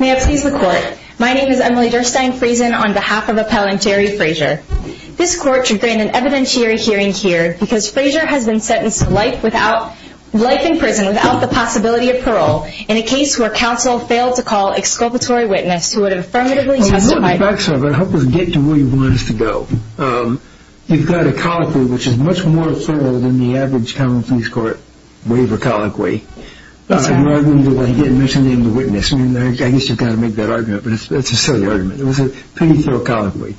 May I please the court? My name is Emily Durstein Friesen on behalf of Appellant Jerry Frazier. This court should grant an evidentiary hearing here because Frazier has been sentenced to life in prison without the possibility of parole in a case where counsel failed to call exculpatory witness who would have affirmatively testified I'm going to help us get to where you want us to go. You've got a colloquy which is much more thorough than the average Common Pleas Court waiver colloquy. You're arguing that I didn't mention the name of the witness. I guess you've got to make that argument, but it's a silly argument. It was a pretty thorough colloquy.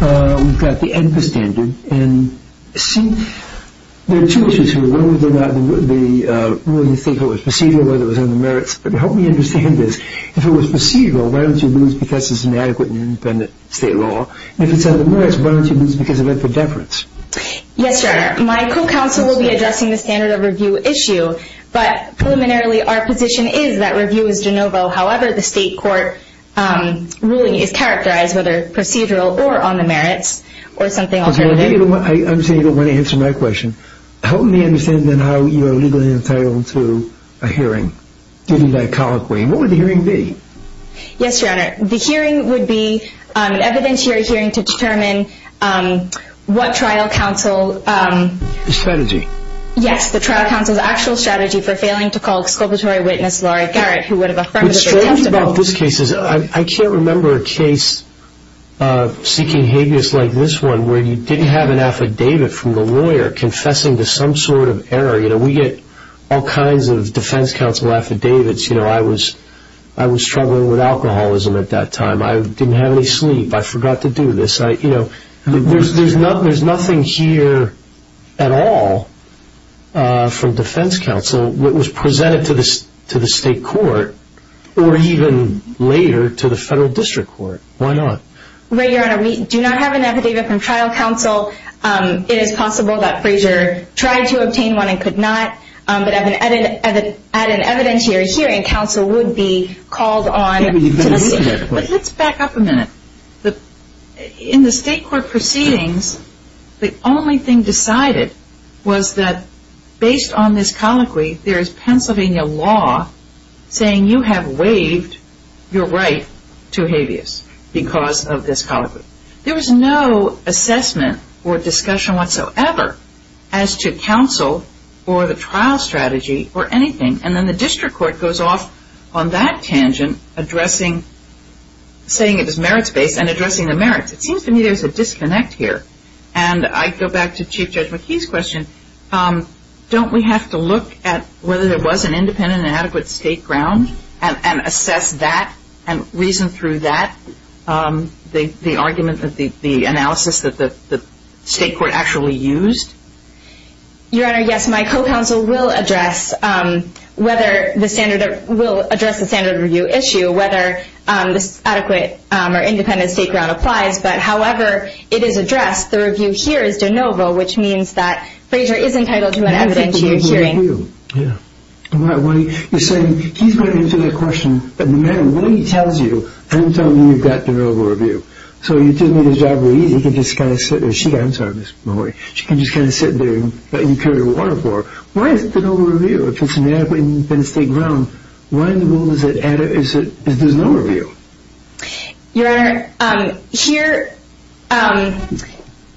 We've got the ENPA standard. There are two issues here. One is whether you think it was procedural or whether it was on the merits. Help me understand this. If it was procedural, why don't you lose because it's inadequate in independent state law? If it's on the merits, why don't you lose because it went for deference? Yes, Your Honor. My co-counsel will be addressing the standard of review issue, but preliminarily our position is that review is de novo. However, the state court ruling is characterized whether procedural or on the merits or something alternative. I'm saying you don't want to answer my question. Help me understand how you are legally entitled to a hearing. Give me that colloquy. What would the hearing be? Yes, Your Honor. The hearing would be an evidence hearing hearing to determine what trial counsel... The strategy. Yes, the trial counsel's actual strategy for failing to call exculpatory witness Laurie Garrett who would have affirmatively testified. I can't remember a case seeking habeas like this one where you didn't have an affidavit from the lawyer confessing to some sort of error. We get all kinds of defense counsel affidavits. I was struggling with alcoholism at that time. I didn't have any sleep. I forgot to do this. There's nothing here at all from defense counsel that was presented to the state court or even later to the federal district court. Why not? Your Honor, we do not have an affidavit from trial counsel. It is possible that Frazier tried to obtain one and could not. But at an evidence hearing, counsel would be called on... But let's back up a minute. In the state court proceedings, the only thing decided was that based on this colloquy, there is Pennsylvania law saying you have waived your right to habeas because of this colloquy. There was no assessment or discussion whatsoever as to counsel or the trial strategy or anything. And then the district court goes off on that tangent, saying it was merits-based and addressing the merits. It seems to me there's a disconnect here. And I go back to Chief Judge McKee's question. Don't we have to look at whether there was an independent and adequate state ground and assess that and reason through that, the argument, the analysis that the state court actually used? Your Honor, yes, my co-counsel will address the standard review issue, whether this adequate or independent state ground applies. But however it is addressed, the review here is de novo, which means that Frazier is entitled to an evidence hearing. You're saying, he's going to answer that question, but no matter what he tells you, I'm telling you you've got de novo review. So you can just kind of sit there. I'm sorry, Ms. Mahoy. She can just kind of sit there and let you carry the water for her. Why is it de novo review? If it's an adequate and independent state ground, why in the world is it de novo review? Your Honor,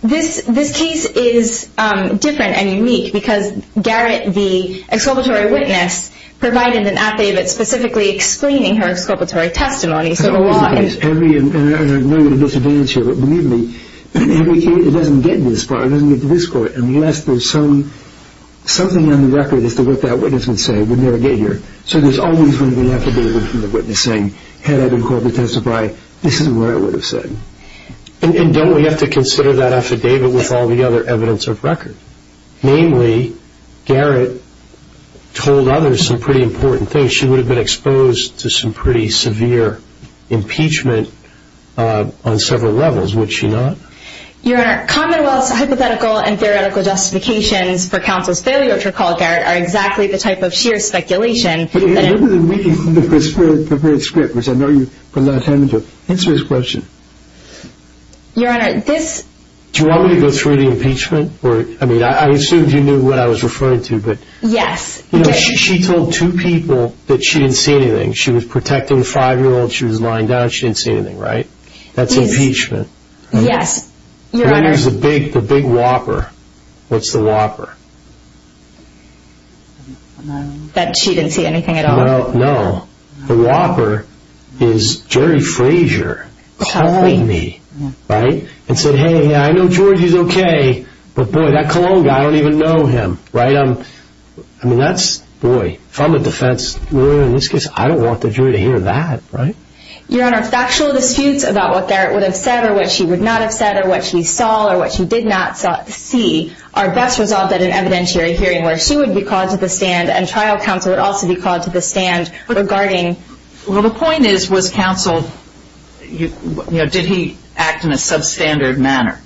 this case is different and unique because Garrett, the exculpatory witness, provided an affidavit specifically explaining her exculpatory testimony. I know we're at a disadvantage here, but believe me, every case that doesn't get to this court, unless there's something on the record as to what that witness would say, would never get here. So there's always going to be an affidavit from the witness saying, had I been called to testify, this is what I would have said. And don't we have to consider that affidavit with all the other evidence of record? Namely, Garrett told others some pretty important things. She would have been exposed to some pretty severe impeachment on several levels, would she not? Your Honor, Commonwealth's hypothetical and theoretical justifications for counsel's failure to recall Garrett are exactly the type of sheer speculation that- Remember the reading of the prepared script, which I know you put a lot of time into. Answer this question. Your Honor, this- Do you want me to go through the impeachment? I mean, I assumed you knew what I was referring to, but- Yes. You know, she told two people that she didn't see anything. She was protecting the five-year-old, she was lying down, she didn't see anything, right? That's impeachment. Yes. And then there's the big whopper. What's the whopper? That she didn't see anything at all. No. The whopper is Jerry Frazier calling me, right? And said, hey, I know George is okay, but boy, that Cologne guy, I don't even know him, right? I mean, that's, boy, if I'm a defense lawyer in this case, I don't want the jury to hear that, right? Your Honor, factual disputes about what Garrett would have said or what she would not have said or what she saw or what she did not see are best resolved at an evidentiary hearing where she would be called to the stand and trial counsel would also be called to the stand regarding- Well, the point is, was counsel- did he act in a substandard manner?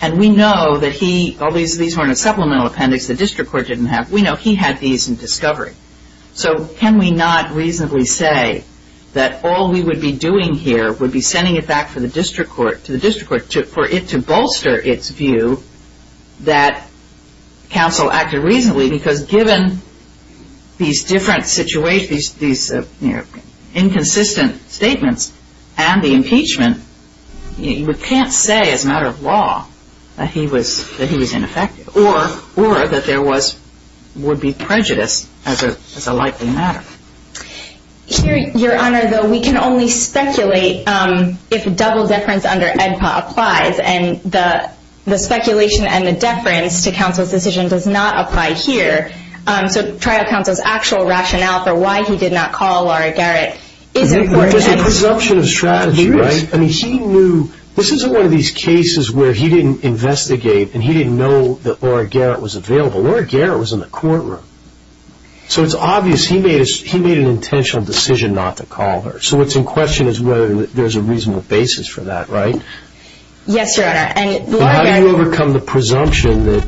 And we know that he- all these were in a supplemental appendix the district court didn't have. We know he had these in discovery. So can we not reasonably say that all we would be doing here would be sending it back to the district court for it to bolster its view that counsel acted reasonably because given these different situations, these inconsistent statements and the impeachment, you can't say as a matter of law that he was ineffective or that there was- would be prejudice as a likely matter. Your Honor, though, we can only speculate if double deference under AEDPA applies. And the speculation and the deference to counsel's decision does not apply here. So trial counsel's actual rationale for why he did not call Laura Garrett is important. There's a presumption of strategy, right? There is. I mean, he knew- this isn't one of these cases where he didn't investigate and he didn't know that Laura Garrett was available. Laura Garrett was in the courtroom. So it's obvious he made an intentional decision not to call her. So what's in question is whether there's a reasonable basis for that, right? Yes, Your Honor. But how do you overcome the presumption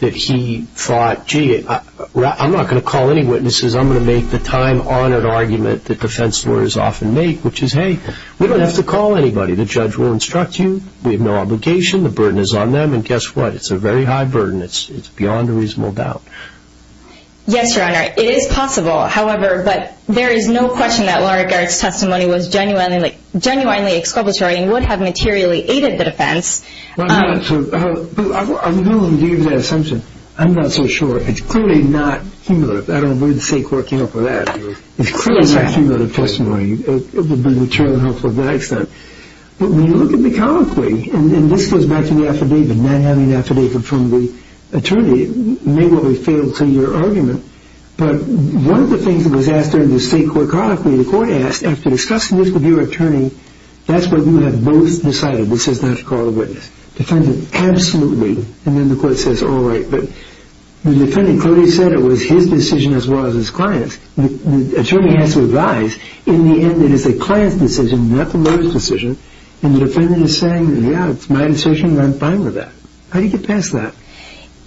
that he thought, gee, I'm not going to call any witnesses, I'm going to make the time-honored argument that defense lawyers often make, which is, hey, we don't have to call anybody. The judge will instruct you. We have no obligation. The burden is on them. And guess what? It's a very high burden. It's beyond a reasonable doubt. Yes, Your Honor. It is possible. However, there is no question that Laura Garrett's testimony was genuinely exculpatory and would have materially aided the defense. I'm willing to give you that assumption. I'm not so sure. It's clearly not cumulative. I don't believe the state court came up with that. It's clearly not cumulative testimony. It would be mature enough for that extent. But when you look at the colloquy, and this goes back to the affidavit, not having an affidavit from the attorney may well have failed to your argument. But one of the things that was asked during the state court colloquy, the court asked, after discussing this with your attorney, that's what you have both decided, which is not to call a witness. Defendant, absolutely. And then the court says, all right. But the defendant clearly said it was his decision as well as his client's. The attorney has to advise. In the end, it is the client's decision, not the lawyer's decision. And the defendant is saying, yeah, it's my decision, and I'm fine with that. How do you get past that?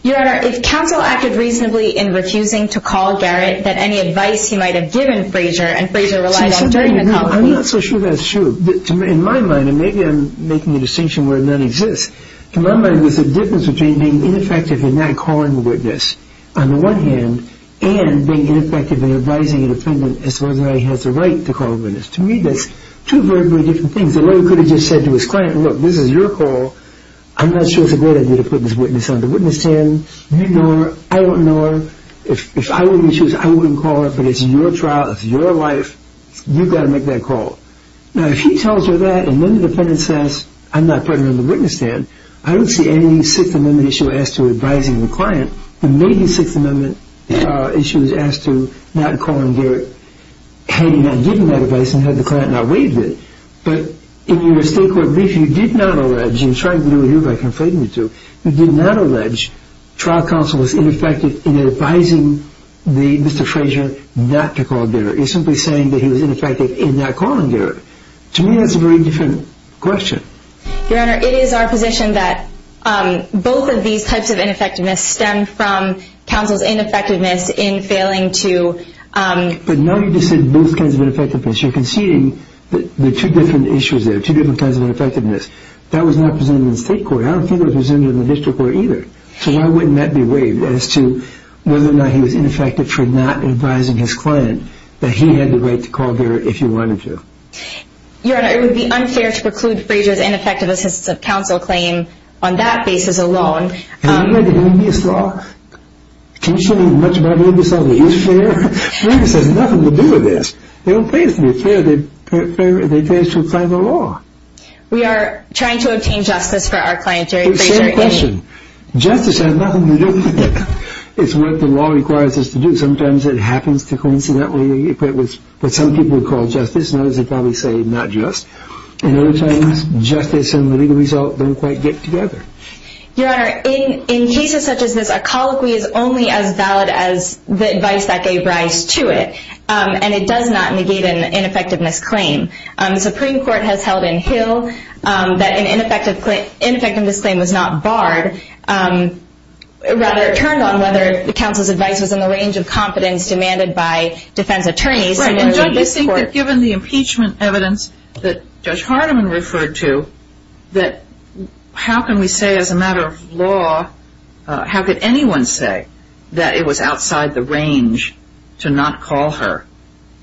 Your Honor, if counsel acted reasonably in refusing to call Garrett, that any advice he might have given Frazier, and Frazier relied on during the colloquy. I'm not so sure that's true. In my mind, and maybe I'm making a distinction where none exists, in my mind there's a difference between being ineffective in not calling the witness, on the one hand, and being ineffective in advising a defendant as far as whether or not he has the right to call a witness. To me, that's two very, very different things. The lawyer could have just said to his client, look, this is your call. I'm not sure it's a great idea to put this witness on the witness stand. You ignore her. I won't ignore her. If I wouldn't choose, I wouldn't call her. But it's your trial. It's your life. You've got to make that call. Now, if he tells her that, and then the defendant says, I'm not putting her on the witness stand, I don't see any Sixth Amendment issue as to advising the client, but maybe Sixth Amendment issues as to not calling Garrett, had he not given that advice and had the client not waived it. But in your state court brief, you did not allege, and you're trying to do it here by conflating the two, you did not allege trial counsel was ineffective in advising Mr. Frazier not to call Garrett. You're simply saying that he was ineffective in not calling Garrett. To me, that's a very different question. Your Honor, it is our position that both of these types of ineffectiveness stem from counsel's ineffectiveness in failing to... But now you just said both kinds of ineffectiveness. You're conceding that there are two different issues there, two different kinds of ineffectiveness. That was not presented in the state court. I don't think it was presented in the district court either. So why wouldn't that be waived as to whether or not he was ineffective for not advising his client that he had the right to call Garrett if he wanted to? Your Honor, it would be unfair to preclude Frazier's ineffective assistance of counsel claim on that basis alone. Can you show me how much of that is fair? Frazier says nothing to do with this. They don't pay us to be fair. They pay us to apply the law. We are trying to obtain justice for our client, Jerry Frazier. Same question. Justice has nothing to do with it. It's what the law requires us to do. Sometimes it happens to coincidentally equate with what some people would call justice, and others would probably say not just. And other times, justice and the legal result don't quite get together. Your Honor, in cases such as this, a colloquy is only as valid as the advice that gave rise to it, and it does not negate an ineffectiveness claim. The Supreme Court has held in Hill that an ineffectiveness claim was not barred. Rather, it turned on whether the counsel's advice was in the range of confidence demanded by defense attorneys. Right. And don't you think that given the impeachment evidence that Judge Hardiman referred to, that how can we say as a matter of law, how could anyone say that it was outside the range to not call her?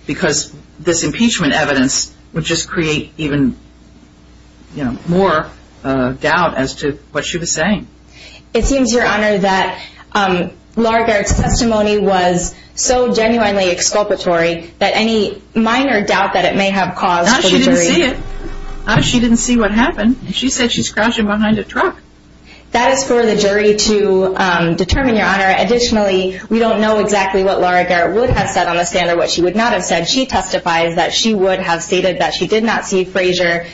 Because this impeachment evidence would just create even more doubt as to what she was saying. It seems, Your Honor, that Laura Garrett's testimony was so genuinely exculpatory that any minor doubt that it may have caused the jury... Not that she didn't see it. Not that she didn't see what happened. She said she's crouching behind a truck. That is for the jury to determine, Your Honor. Additionally, we don't know exactly what Laura Garrett would have said on the stand or what she would not have said. She testifies that she would have stated that she did not see Frasier,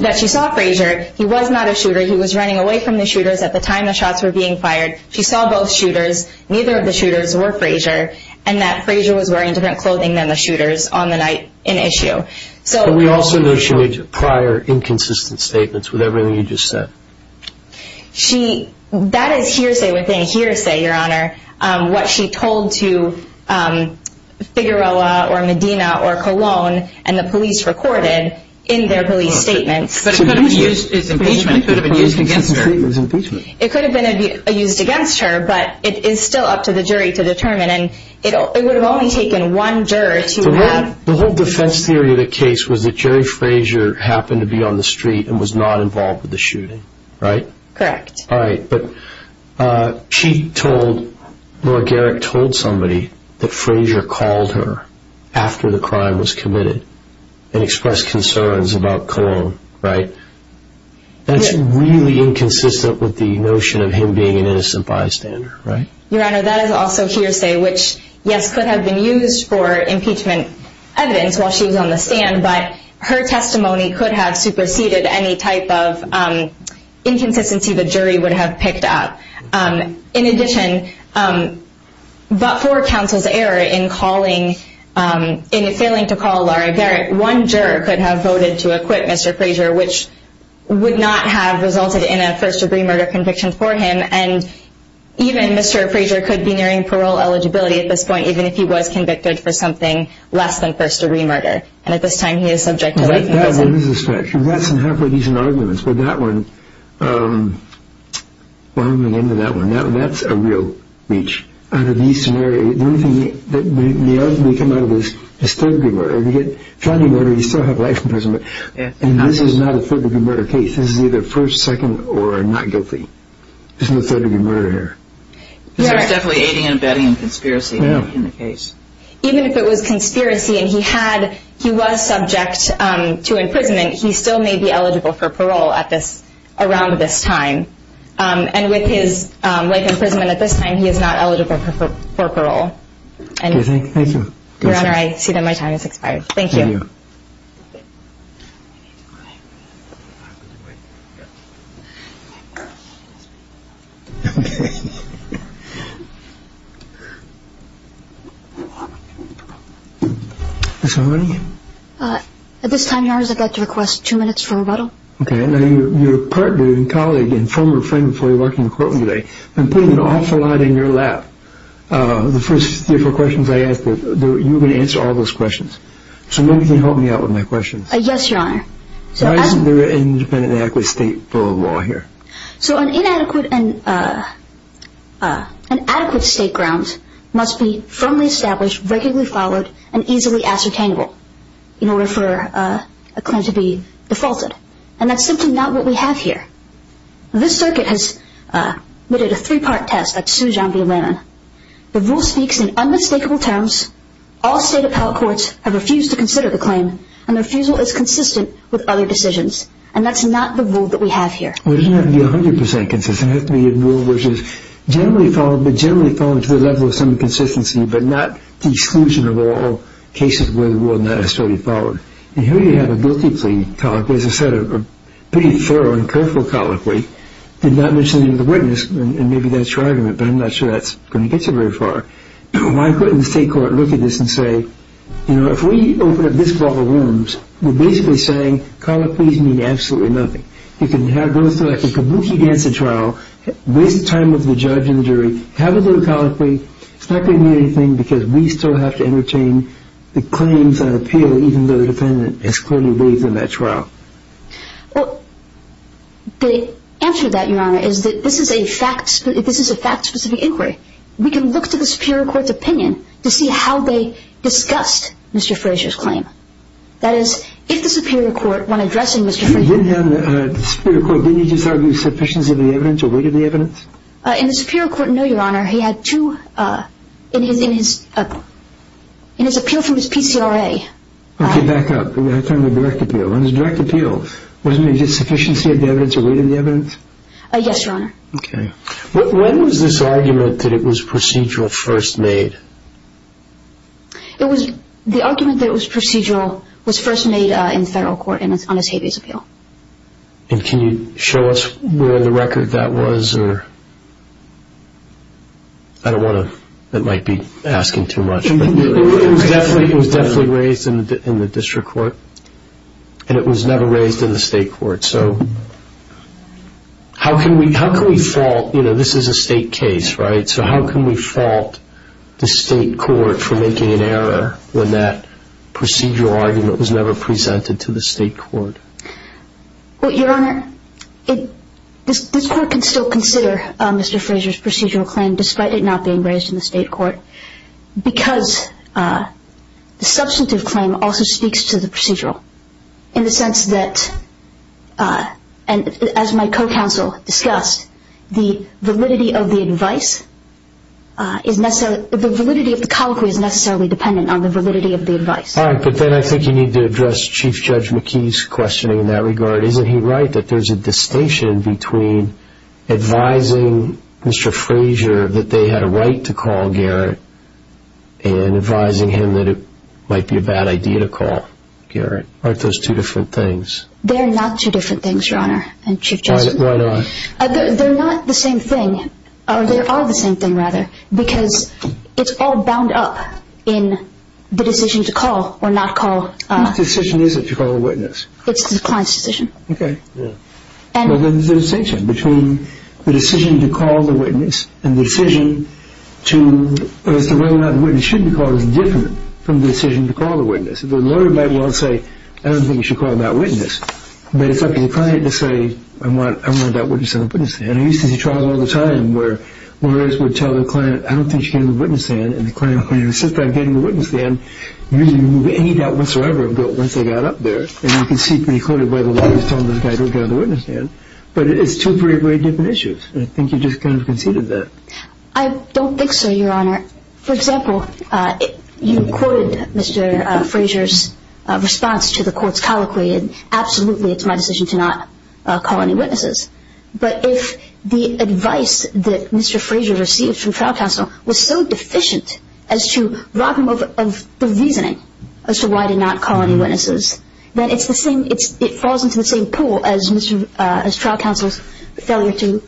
that she saw Frasier. He was not a shooter. He was running away from the shooters at the time the shots were being fired. She saw both shooters. Neither of the shooters were Frasier, and that Frasier was wearing different clothing than the shooters on the night in issue. But we also know she made prior inconsistent statements with everything you just said. That is hearsay within hearsay, Your Honor. What she told to Figueroa or Medina or Colon and the police recorded in their police statements. But it could have been used as impeachment. It could have been used against her. It could have been used against her, but it is still up to the jury to determine. It would have only taken one juror to have... The whole defense theory of the case was that Jerry Frasier happened to be on the street and was not involved with the shooting, right? Correct. All right, but she told... Laura Garrick told somebody that Frasier called her after the crime was committed and expressed concerns about Colon, right? That's really inconsistent with the notion of him being an innocent bystander, right? Your Honor, that is also hearsay, which, yes, could have been used for impeachment evidence while she was on the stand, but her testimony could have superseded any type of inconsistency the jury would have picked up. In addition, but for counsel's error in failing to call Laura Garrick, one juror could have voted to acquit Mr. Frasier, which would not have resulted in a first-degree murder conviction for him, and even Mr. Frasier could be nearing parole eligibility at this point, even if he was convicted for something less than first-degree murder. And at this time, he is subject to life in prison. That is a suspect. You've got some halfway decent arguments, but that one, well, I'm going to end on that one. That's a real reach. Under these scenarios, the only thing that may ultimately come out of this is third-degree murder. If you get a felony murder, you still have life in prison. And this is not a third-degree murder case. This is either first, second, or not guilty. There's no third-degree murder here. There's definitely aiding and abetting and conspiracy in the case. Even if it was conspiracy and he was subject to imprisonment, he still may be eligible for parole around this time. And with his life in prison at this time, he is not eligible for parole. Your Honor, I see that my time has expired. Thank you. Thank you. Ms. Harney? At this time, Your Honor, I'd like to request two minutes for rebuttal. Okay. Now, your partner and colleague and former friend before you walked into the courtroom today has been putting an awful lot in your lap. The first three or four questions I asked, you were going to answer all those questions. So maybe you can help me out with my questions. Yes, Your Honor. Why isn't there an independent and adequate state bill of law here? So an inadequate and adequate state grounds must be firmly established, regularly followed, and easily ascertainable in order for a claim to be defaulted. And that's simply not what we have here. This circuit has admitted a three-part test by Sue John B. Lennon. The rule speaks in unmistakable terms. All state appellate courts have refused to consider the claim, and the refusal is consistent with other decisions. And that's not the rule that we have here. Well, it doesn't have to be 100 percent consistent. It has to be a rule which is generally followed, but generally followed to the level of some consistency, but not the exclusion of all cases where the rule is not as thoroughly followed. And here you have a guilty plea colloquy. As I said, a pretty thorough and careful colloquy. Did not mention the name of the witness, and maybe that's your argument, but I'm not sure that's going to get you very far. Why couldn't the state court look at this and say, you know, if we open up this ball of worms, we're basically saying colloquies mean absolutely nothing. You can go through like a Kabuki dancing trial, waste time with the judge and jury, have a little colloquy. It's not going to mean anything because we still have to entertain the claims and appeal even though the defendant has clearly waived on that trial. Well, the answer to that, Your Honor, is that this is a fact-specific inquiry. We can look to the superior court's opinion to see how they discussed Mr. Frazier's claim. That is, if the superior court, when addressing Mr. Frazier— You didn't have—the superior court, didn't he just argue sufficiency of the evidence or weight of the evidence? In the superior court, no, Your Honor. He had two—in his appeal from his PCRA— Okay, back up. I'm talking about direct appeal. On his direct appeal, wasn't there a sufficiency of the evidence or weight of the evidence? Yes, Your Honor. Okay. When was this argument that it was procedural first made? It was—the argument that it was procedural was first made in federal court on his habeas appeal. And can you show us where in the record that was? I don't want to—it might be asking too much. It was definitely raised in the district court, and it was never raised in the state court. So how can we fault—you know, this is a state case, right? So how can we fault the state court for making an error when that procedural argument was never presented to the state court? Well, Your Honor, this court can still consider Mr. Frazier's procedural claim, despite it not being raised in the state court, because the substantive claim also speaks to the procedural in the sense that, as my co-counsel discussed, the validity of the advice is necessarily—the validity of the colloquy is necessarily dependent on the validity of the advice. All right. But then I think you need to address Chief Judge McKee's questioning in that regard. Isn't he right that there's a distinction between advising Mr. Frazier that they had a right to call Garrett and advising him that it might be a bad idea to call Garrett? Aren't those two different things? They're not two different things, Your Honor, and Chief Judge— Why not? They're not the same thing—or they are the same thing, rather, because it's all bound up in the decision to call or not call. Which decision is it to call a witness? It's the client's decision. Okay. Yeah. Well, then there's a distinction between the decision to call the witness and the decision to— as to whether or not the witness should be called is different from the decision to call the witness. The lawyer might want to say, I don't think you should call that witness, but it's up to the client to say, I want that witness in the witness stand. I used to see trials all the time where lawyers would tell their client, I don't think you should get in the witness stand, and the client would say, I don't think so, Your Honor. For example, you quoted Mr. Frazier's response to the court's colloquy, and absolutely it's my decision to not call any witnesses. But if the advice that Mr. Frazier received from trial counsel was so deficient of the reasoning as to why to not call any witnesses, then it falls into the same pool as trial counsel's failure to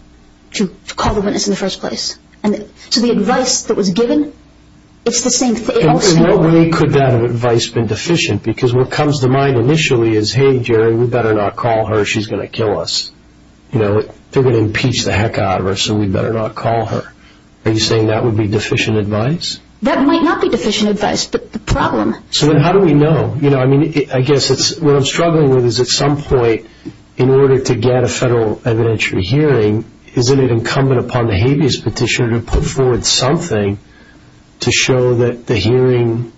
call the witness in the first place. So the advice that was given, it's the same thing. In what way could that advice have been deficient? Because what comes to mind initially is, hey, Jerry, we better not call her. She's going to kill us. They're going to impeach the heck out of her, so we better not call her. Are you saying that would be deficient advice? That might not be deficient advice, but the problem. So then how do we know? I mean, I guess what I'm struggling with is at some point, in order to get a federal evidentiary hearing, isn't it incumbent upon the habeas petitioner to put forward something to show that the hearing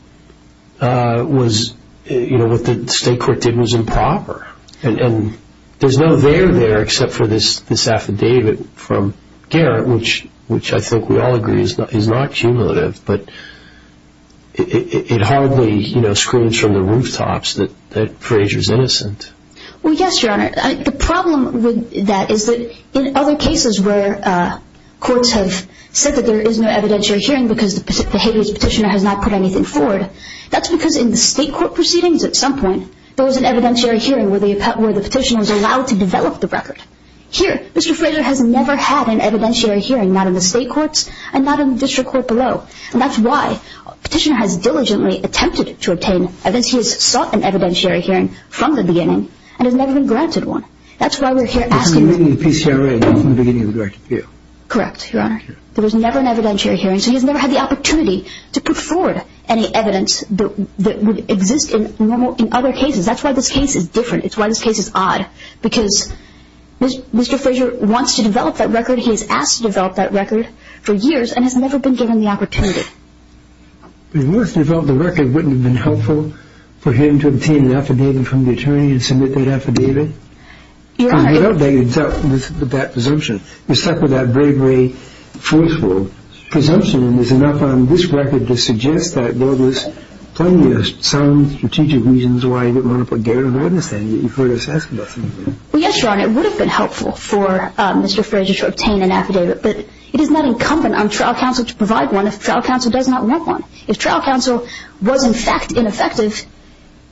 was what the state court did was improper? And there's no there there except for this affidavit from Garrett, which I think we all agree is not cumulative, but it hardly screams from the rooftops that Frazier's innocent. Well, yes, Your Honor. The problem with that is that in other cases where courts have said that there is no evidentiary hearing because the habeas petitioner has not put anything forward, that's because in the state court proceedings at some point, there was an evidentiary hearing where the petitioner was allowed to develop the record. Here, Mr. Frazier has never had an evidentiary hearing, not in the state courts and not in the district court below, and that's why the petitioner has diligently attempted to obtain, as he has sought an evidentiary hearing from the beginning, and has never been granted one. That's why we're here asking. Excluding the PCRA from the beginning of the directed appeal. Correct, Your Honor. There was never an evidentiary hearing, so he has never had the opportunity to put forward any evidence that would exist in other cases. That's why this case is different. It's why this case is odd, because Mr. Frazier wants to develop that record. He has asked to develop that record for years and has never been given the opportunity. If he wants to develop the record, wouldn't it have been helpful for him to obtain an affidavit from the attorney and submit that affidavit? Your Honor. Without that presumption. You're stuck with that very, very forceful presumption, and there's enough on this record to suggest that there was plenty of sound strategic reasons why he didn't want to put Garrett on the witness stand. You've heard us ask about that. Well, yes, Your Honor. It would have been helpful for Mr. Frazier to obtain an affidavit, but it is not incumbent on trial counsel to provide one if trial counsel does not want one. If trial counsel was, in fact, ineffective,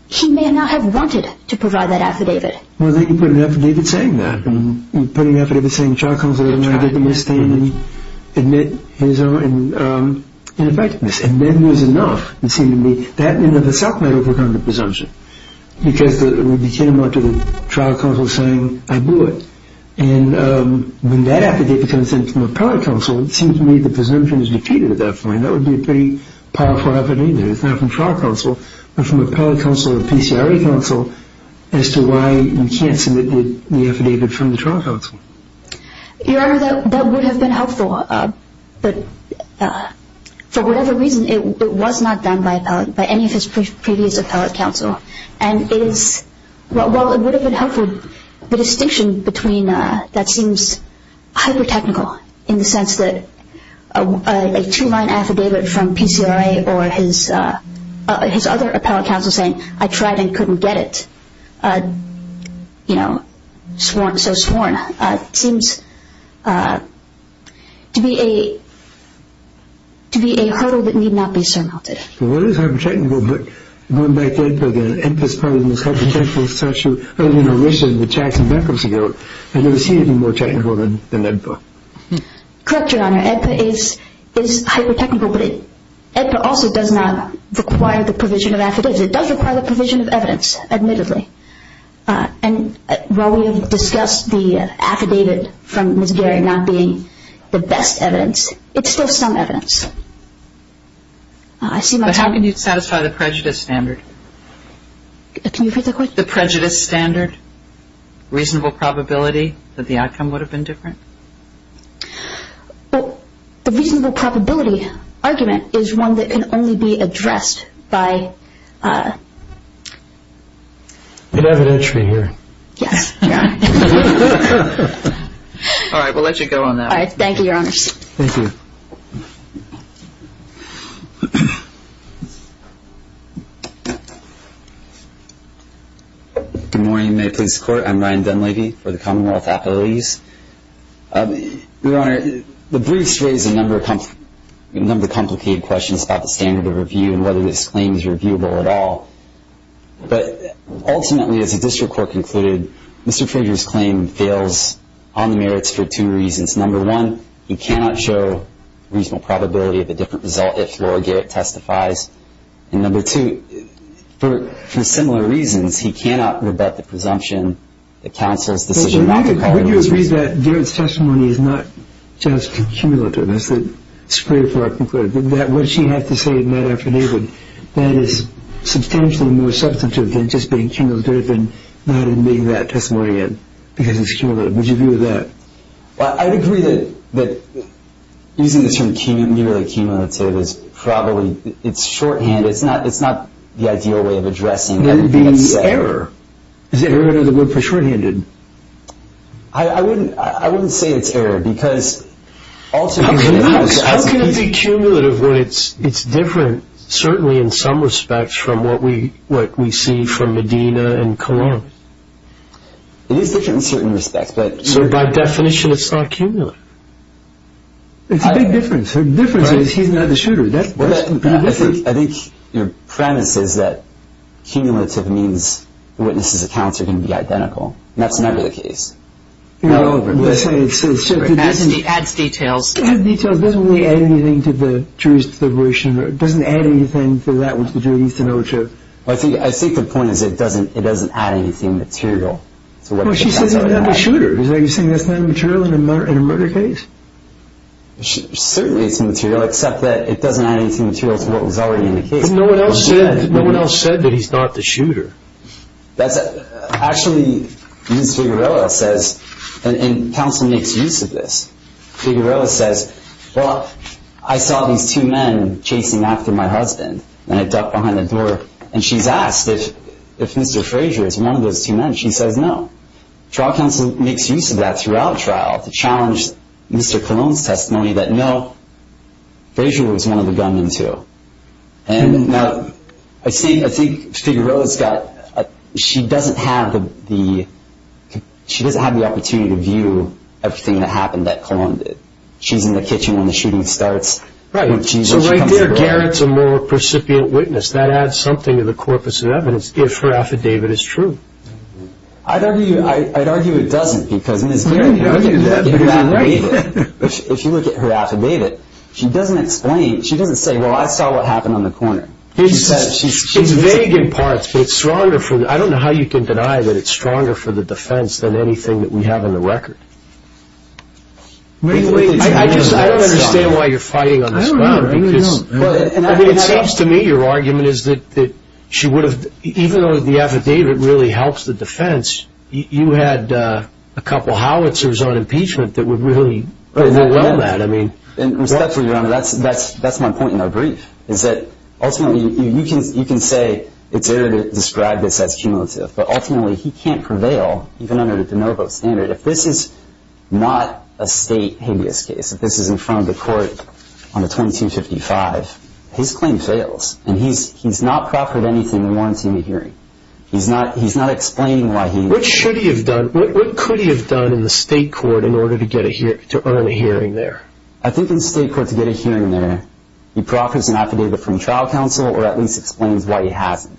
he may not have wanted to provide that affidavit. Well, they can put an affidavit saying that. They can put an affidavit saying trial counsel did not get on the witness stand and admit his own ineffectiveness. And then there's enough. It seems to me that in and of itself might overcome the presumption because we begin to go to the trial counsel saying, I blew it. And when that affidavit comes in from appellate counsel, it seems to me the presumption is defeated at that point. That would be a pretty powerful affidavit. It's not from trial counsel, but from appellate counsel or PCRA counsel as to why you can't submit the affidavit from the trial counsel. Your Honor, that would have been helpful. But for whatever reason, it was not done by any of his previous appellate counsel. And while it would have been helpful, the distinction between that seems hyper-technical in the sense that a two-line affidavit from PCRA or his other appellate counsel saying, I tried and couldn't get it, you know, so sworn, seems to be a hurdle that need not be surmounted. Well, it is hyper-technical, but going back to AEDPA again, AEDPA's probably the most hyper-technical statute. I mean, in relation to Jackson Beckham's account, I've never seen anything more technical than AEDPA. Correct, Your Honor. AEDPA is hyper-technical, but AEDPA also does not require the provision of affidavits. It does require the provision of evidence, admittedly. And while we have discussed the affidavit from Ms. Gary not being the best evidence, it's still some evidence. But how can you satisfy the prejudice standard? Can you repeat the question? The prejudice standard, reasonable probability that the outcome would have been different? Well, the reasonable probability argument is one that can only be addressed by... Good evidentiary here. Yes. All right, we'll let you go on that one. All right, thank you, Your Honors. Thank you. Good morning, May Police Court. I'm Ryan Dunleavy for the Commonwealth Appellees. Your Honor, the briefs raise a number of complicated questions about the standard of review and whether this claim is reviewable at all. But ultimately, as the district court concluded, Mr. Frazier's claim fails on the merits for two reasons. Number one, he cannot show reasonable probability of a different result if Laura Garrett testifies. And number two, for similar reasons, he cannot rebut the presumption that counsel's decision not to call... Wouldn't you agree that Garrett's testimony is not just cumulative? It's great for our conclusion. What she has to say in that affidavit, that is substantially more substantive than just being cumulative and not admitting that testimony because it's cumulative. Would you agree with that? Well, I'd agree that using the term cumulative is probably... It's shorthand. It's not the ideal way of addressing everything that's said. Then being error. Is error the word for shorthanded? I wouldn't say it's error because ultimately... How can it be cumulative when it's different, certainly in some respects, from what we see from Medina and Cologne? It is different in certain respects, but... But by definition, it's not cumulative. It's a big difference. The difference is he's not the shooter. I think your premise is that cumulative means the witness's accounts are going to be identical. That's never the case. Let's say it's... It adds details. It adds details. It doesn't really add anything to the jury's deliberation. It doesn't add anything for that one to do. I think the point is it doesn't add anything material. She says he's not the shooter. Are you saying that's not material in a murder case? Certainly it's material, except that it doesn't add anything material to what was already in the case. No one else said that he's not the shooter. Actually, Ms. Figuerella says, and counsel makes use of this, Figuerella says, well, I saw these two men chasing after my husband, and I ducked behind the door, and she's asked if Mr. Frazier was one of those two men. She says no. Trial counsel makes use of that throughout trial to challenge Mr. Colon's testimony that, no, Frazier was one of the gunmen, too. Now, I think Figuerella's got... She doesn't have the opportunity to view everything that happened that Colon did. She's in the kitchen when the shooting starts. Right. So right there, Garrett's a more precipient witness. That adds something to the corpus of evidence if her affidavit is true. I'd argue it doesn't, because Ms. Garrett argued that in her affidavit. If you look at her affidavit, she doesn't explain. She doesn't say, well, I saw what happened on the corner. It's vague in parts, but it's stronger for the... I don't know how you can deny that it's stronger for the defense than anything that we have on the record. I don't understand why you're fighting on this ground. I don't know. It seems to me your argument is that she would have... Even though the affidavit really helps the defense, you had a couple howitzers on impeachment that would really overwhelm that. Respectfully, Your Honor, that's my point in our brief, is that ultimately you can say it's error to describe this as cumulative, but ultimately he can't prevail even under the de novo standard. If this is not a state habeas case, if this is in front of the court on the 2255, his claim fails. And he's not proffered anything that warrants him a hearing. He's not explaining why he... What should he have done? What could he have done in the state court in order to earn a hearing there? I think in the state court to get a hearing there, he proffers an affidavit from trial counsel or at least explains why he hasn't.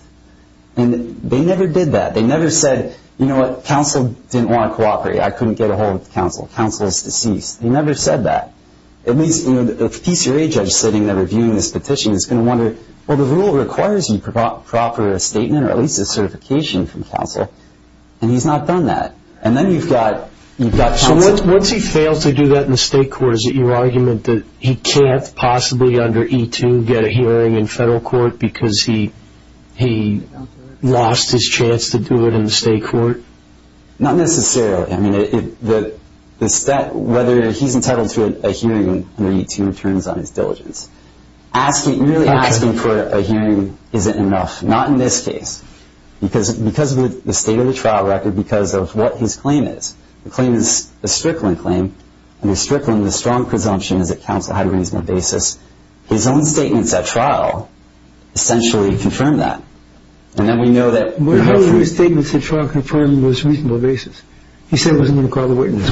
And they never did that. They never said, you know what? Counsel didn't want to cooperate. I couldn't get a hold of counsel. Counsel is deceased. They never said that. At least the PCRA judge sitting there reviewing this petition is going to wonder, well, the rule requires you to proffer a statement or at least a certification from counsel. And he's not done that. And then you've got counsel... So once he fails to do that in the state court, is it your argument that he can't possibly under E-2 get a hearing in federal court because he lost his chance to do it in the state court? Not necessarily. I mean, whether he's entitled to a hearing under E-2 depends on his diligence. Really asking for a hearing isn't enough, not in this case, because of the state of the trial record, because of what his claim is. The claim is a Strickland claim, and in Strickland the strong presumption is that counsel had a reasonable basis. His own statements at trial essentially confirm that. And then we know that... How do his statements at trial confirm his reasonable basis? He said he wasn't going to call the witness.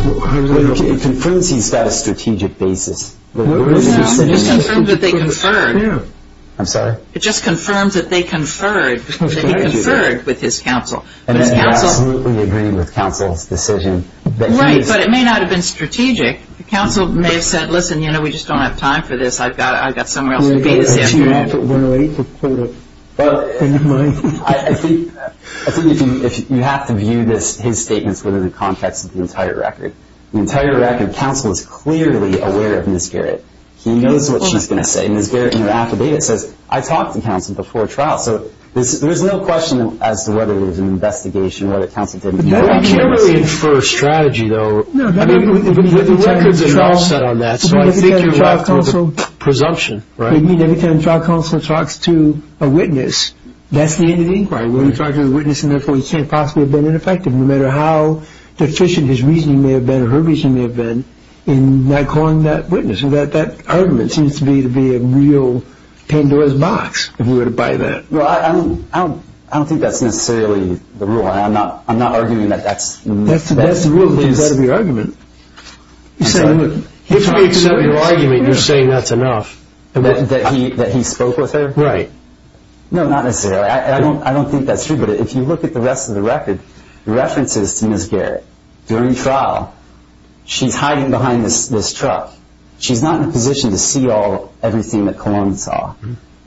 It confirms he's got a strategic basis. It just confirms that they conferred. I'm sorry? It just confirms that they conferred, that he conferred with his counsel. And you're absolutely agreeing with counsel's decision. Right, but it may not have been strategic. The counsel may have said, listen, you know, we just don't have time for this. I've got somewhere else to be this afternoon. Well, I think you have to view his statements within the context of the entire record. The entire record, counsel is clearly aware of Ms. Garrett. He knows what she's going to say. Ms. Garrett in her affidavit says, I talked to counsel before trial. So there's no question as to whether it was an investigation, You can't really infer a strategy, though. The records are not set on that. So I think you're left with a presumption. Anytime trial counsel talks to a witness, that's the end of the inquiry. When he talks to the witness, and therefore he can't possibly have been ineffective, no matter how deficient his reasoning may have been or her reasoning may have been, in not calling that witness. That argument seems to be a real Pandora's box, if we were to buy that. I don't think that's necessarily the rule. I'm not arguing that that's the rule. If you accept your argument, you're saying that's enough. That he spoke with her? Right. No, not necessarily. I don't think that's true. But if you look at the rest of the record, references to Ms. Garrett during trial, she's hiding behind this truck. She's not in a position to see everything that Cologne saw.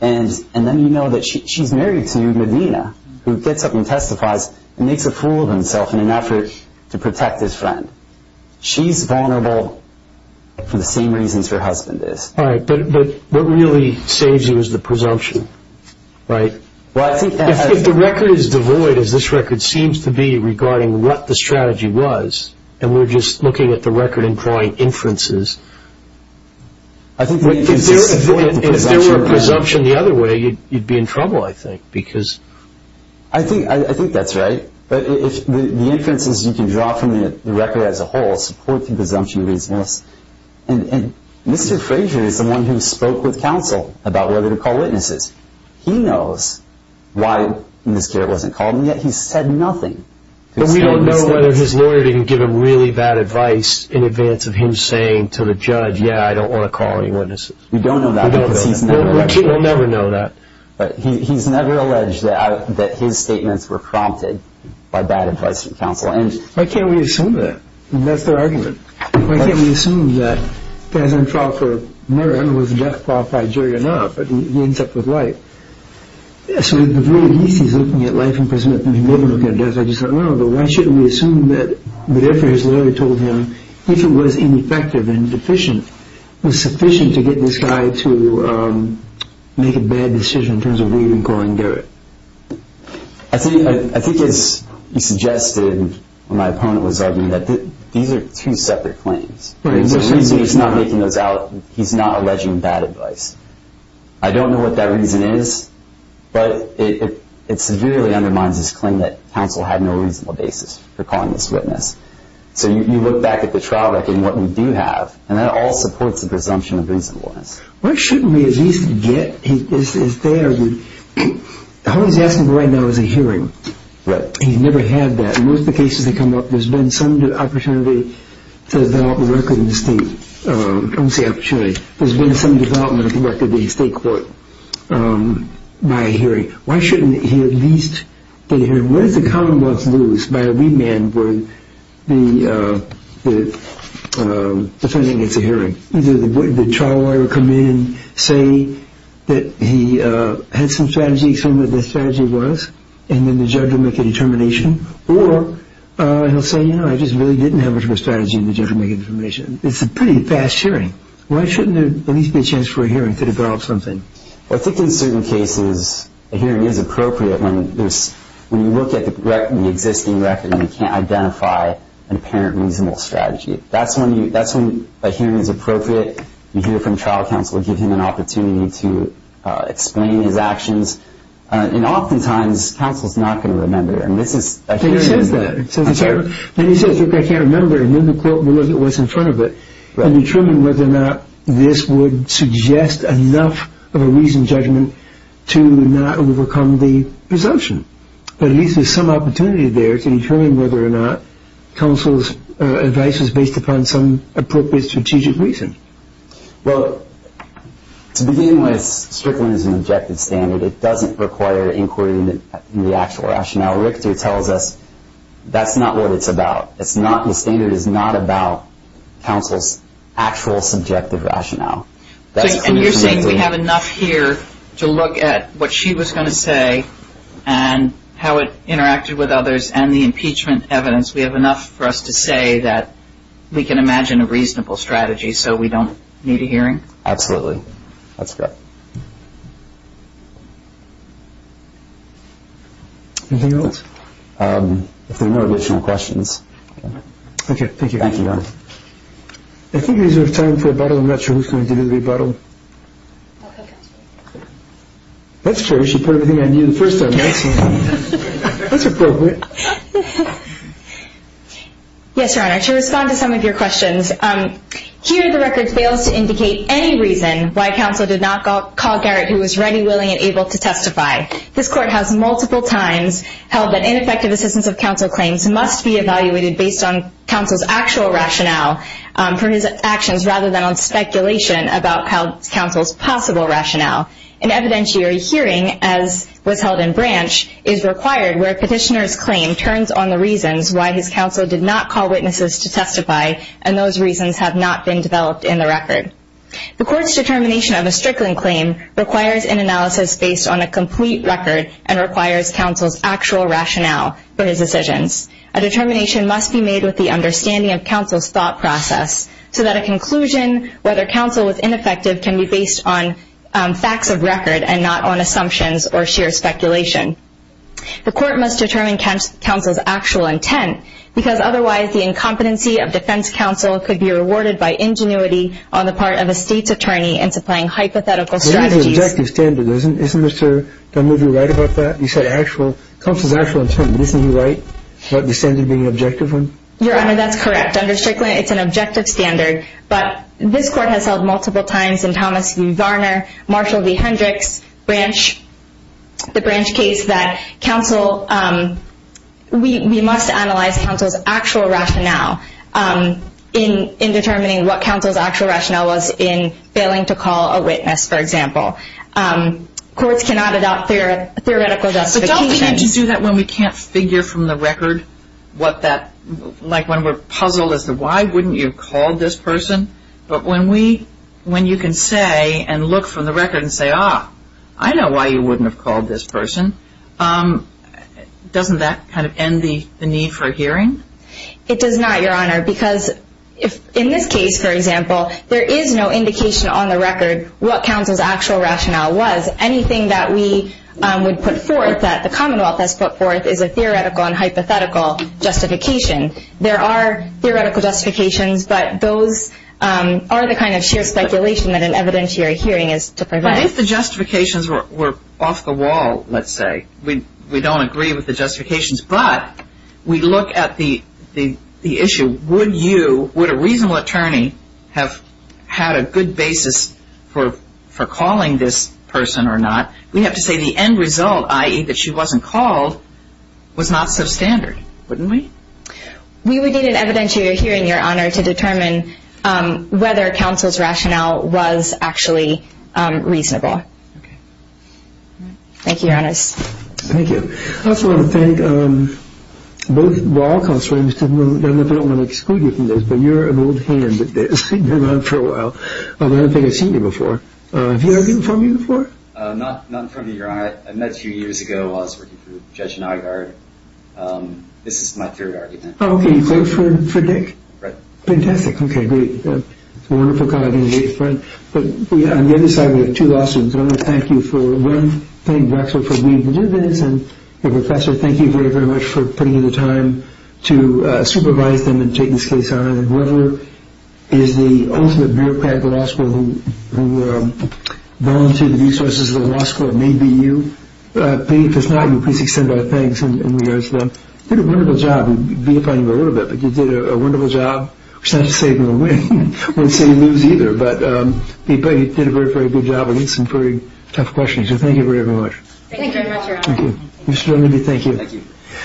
And then you know that she's married to Medina, who gets up and testifies and makes a fool of himself in an effort to protect his friend. She's vulnerable for the same reasons her husband is. But what really saves you is the presumption, right? If the record is devoid, as this record seems to be, regarding what the strategy was, and we're just looking at the record and drawing inferences, if there were presumption the other way, you'd be in trouble, I think. I think that's right. But the inferences you can draw from the record as a whole support the presumption of reasonableness. And Mr. Frazier is the one who spoke with counsel about whether to call witnesses. He knows why Ms. Garrett wasn't called, and yet he's said nothing. But we don't know whether his lawyer didn't give him really bad advice in advance of him saying to the judge, yeah, I don't want to call any witnesses. We don't know that because he's never alleged that. We'll never know that. But he's never alleged that his statements were prompted by bad advice from counsel. Why can't we assume that? That's their argument. Why can't we assume that guys on trial for murder, I don't know if the death qualified jury or not, but he ends up with life. Yeah, so if really he's looking at life imprisonment, then he may be looking at death. I just thought, no, but why shouldn't we assume that whatever his lawyer told him, if it was ineffective and deficient, it was sufficient to get this guy to make a bad decision in terms of leaving Colin Garrett? I think as you suggested when my opponent was arguing, these are two separate claims. The reason he's not making those out, he's not alleging bad advice. I don't know what that reason is, but it severely undermines his claim that counsel had no reasonable basis for calling this witness. So you look back at the trial record and what we do have, and that all supports the presumption of reasonableness. Why shouldn't we at least get, is there, all he's asking for right now is a hearing. Right. He's never had that. In most of the cases that come up, there's been some opportunity to develop the record in the state. I don't say opportunity. There's been some development of the record in the state court by a hearing. Why shouldn't he at least get a hearing? What does the Commonwealth lose by a remand when the defendant gets a hearing? Either the trial lawyer will come in, say that he had some strategy, explained what the strategy was, and then the judge will make a determination, or he'll say, you know, I just really didn't have much of a strategy, and the judge will make a determination. It's a pretty fast hearing. Why shouldn't there at least be a chance for a hearing to develop something? I think in certain cases a hearing is appropriate when you look at the existing record and you can't identify an apparent reasonable strategy. That's when a hearing is appropriate. You hear from trial counsel to give him an opportunity to explain his actions. And oftentimes counsel is not going to remember. And this is a hearing. He says that. Then he says, look, I can't remember. And then the court will look at what's in front of it and determine whether or not this would suggest enough of a reasoned judgment to not overcome the presumption. But at least there's some opportunity there to determine whether or not counsel's advice is based upon some appropriate strategic reason. Well, to begin with, Strickland is an objective standard. It doesn't require inquiry in the actual rationale. Richter tells us that's not what it's about. The standard is not about counsel's actual subjective rationale. And you're saying we have enough here to look at what she was going to say and how it interacted with others and the impeachment evidence. We have enough for us to say that we can imagine a reasonable strategy so we don't need a hearing? Absolutely. That's correct. Anything else? If there are no additional questions. Okay, thank you. Thank you, Your Honor. I think we have time for a rebuttal. I'm not sure who's going to do the rebuttal. I'll have counsel do it. That's fair. You should put everything on you first on counsel. That's appropriate. Yes, Your Honor. To respond to some of your questions, here the record fails to indicate any reason why counsel did not call Garrett who was ready, willing, and able to testify. This court has multiple times held that ineffective assistance of counsel claims must be evaluated based on counsel's actual rationale for his actions rather than on speculation about counsel's possible rationale. An evidentiary hearing, as was held in Branch, is required where a petitioner's claim turns on the reasons why his counsel did not call witnesses to testify, and those reasons have not been developed in the record. The court's determination of a Strickland claim requires an analysis based on a complete record and requires counsel's actual rationale for his decisions. A determination must be made with the understanding of counsel's thought process so that a conclusion whether counsel was ineffective can be based on facts of record and not on assumptions or sheer speculation. The court must determine counsel's actual intent because otherwise the incompetency of defense counsel could be rewarded by ingenuity on the part of a state's attorney in supplying hypothetical strategies. But this is an objective standard, isn't it, sir? Don't you think you're right about that? Counsel's actual intent, isn't he right about the standard being an objective one? Your Honor, that's correct. Under Strickland, it's an objective standard, but this court has held multiple times in Thomas v. Varner, Marshall v. Hendricks, the Branch case, that we must analyze counsel's actual rationale in determining what counsel's actual rationale was in failing to call a witness, for example. Courts cannot adopt theoretical justification. But don't we need to do that when we can't figure from the record what that, like when we're puzzled as to why wouldn't you have called this person? But when we, when you can say and look from the record and say, ah, I know why you wouldn't have called this person, doesn't that kind of end the need for a hearing? It does not, Your Honor, because in this case, for example, there is no indication on the record what counsel's actual rationale was. Anything that we would put forth, that the Commonwealth has put forth, is a theoretical and hypothetical justification. There are theoretical justifications, but those are the kind of sheer speculation that an evidentiary hearing is to prevent. But if the justifications were off the wall, let's say, we don't agree with the justifications, but we look at the issue. Would you, would a reasonable attorney have had a good basis for calling this person or not? We have to say the end result, i.e., that she wasn't called, was not substandard, wouldn't we? We would need an evidentiary hearing, Your Honor, to determine whether counsel's rationale was actually reasonable. Okay. Thank you, Your Honors. Thank you. I also want to thank both law counsels. I don't know if I don't want to exclude you from this, but you're an old hand at this. You've been around for a while. I don't think I've seen you before. Have you argued in front of me before? Not in front of you, Your Honor. I met a few years ago while I was working for Judge Nygaard. This is my third argument. Oh, okay. You voted for Dick? Right. Fantastic. Okay, great. It's a wonderful colleague and a great friend. But on the other side, we have two lawsuits, and I want to thank you for one, thank you, Maxwell, for leading to do this, and, Professor, thank you very, very much for putting in the time to supervise them and take this case on, and whoever is the ultimate bureaucrat at the law school who volunteered the resources of the law school, it may be you. If it's not you, please extend our thanks in regards to that. You did a wonderful job. I'm beatifying you a little bit, but you did a wonderful job. It's not to say you're going to win. I wouldn't say you lose either, but you did a very, very good job. Some very tough questions. So thank you very, very much. Thank you very much, Your Honor. Thank you. Mr. O'Malley, thank you. Thank you.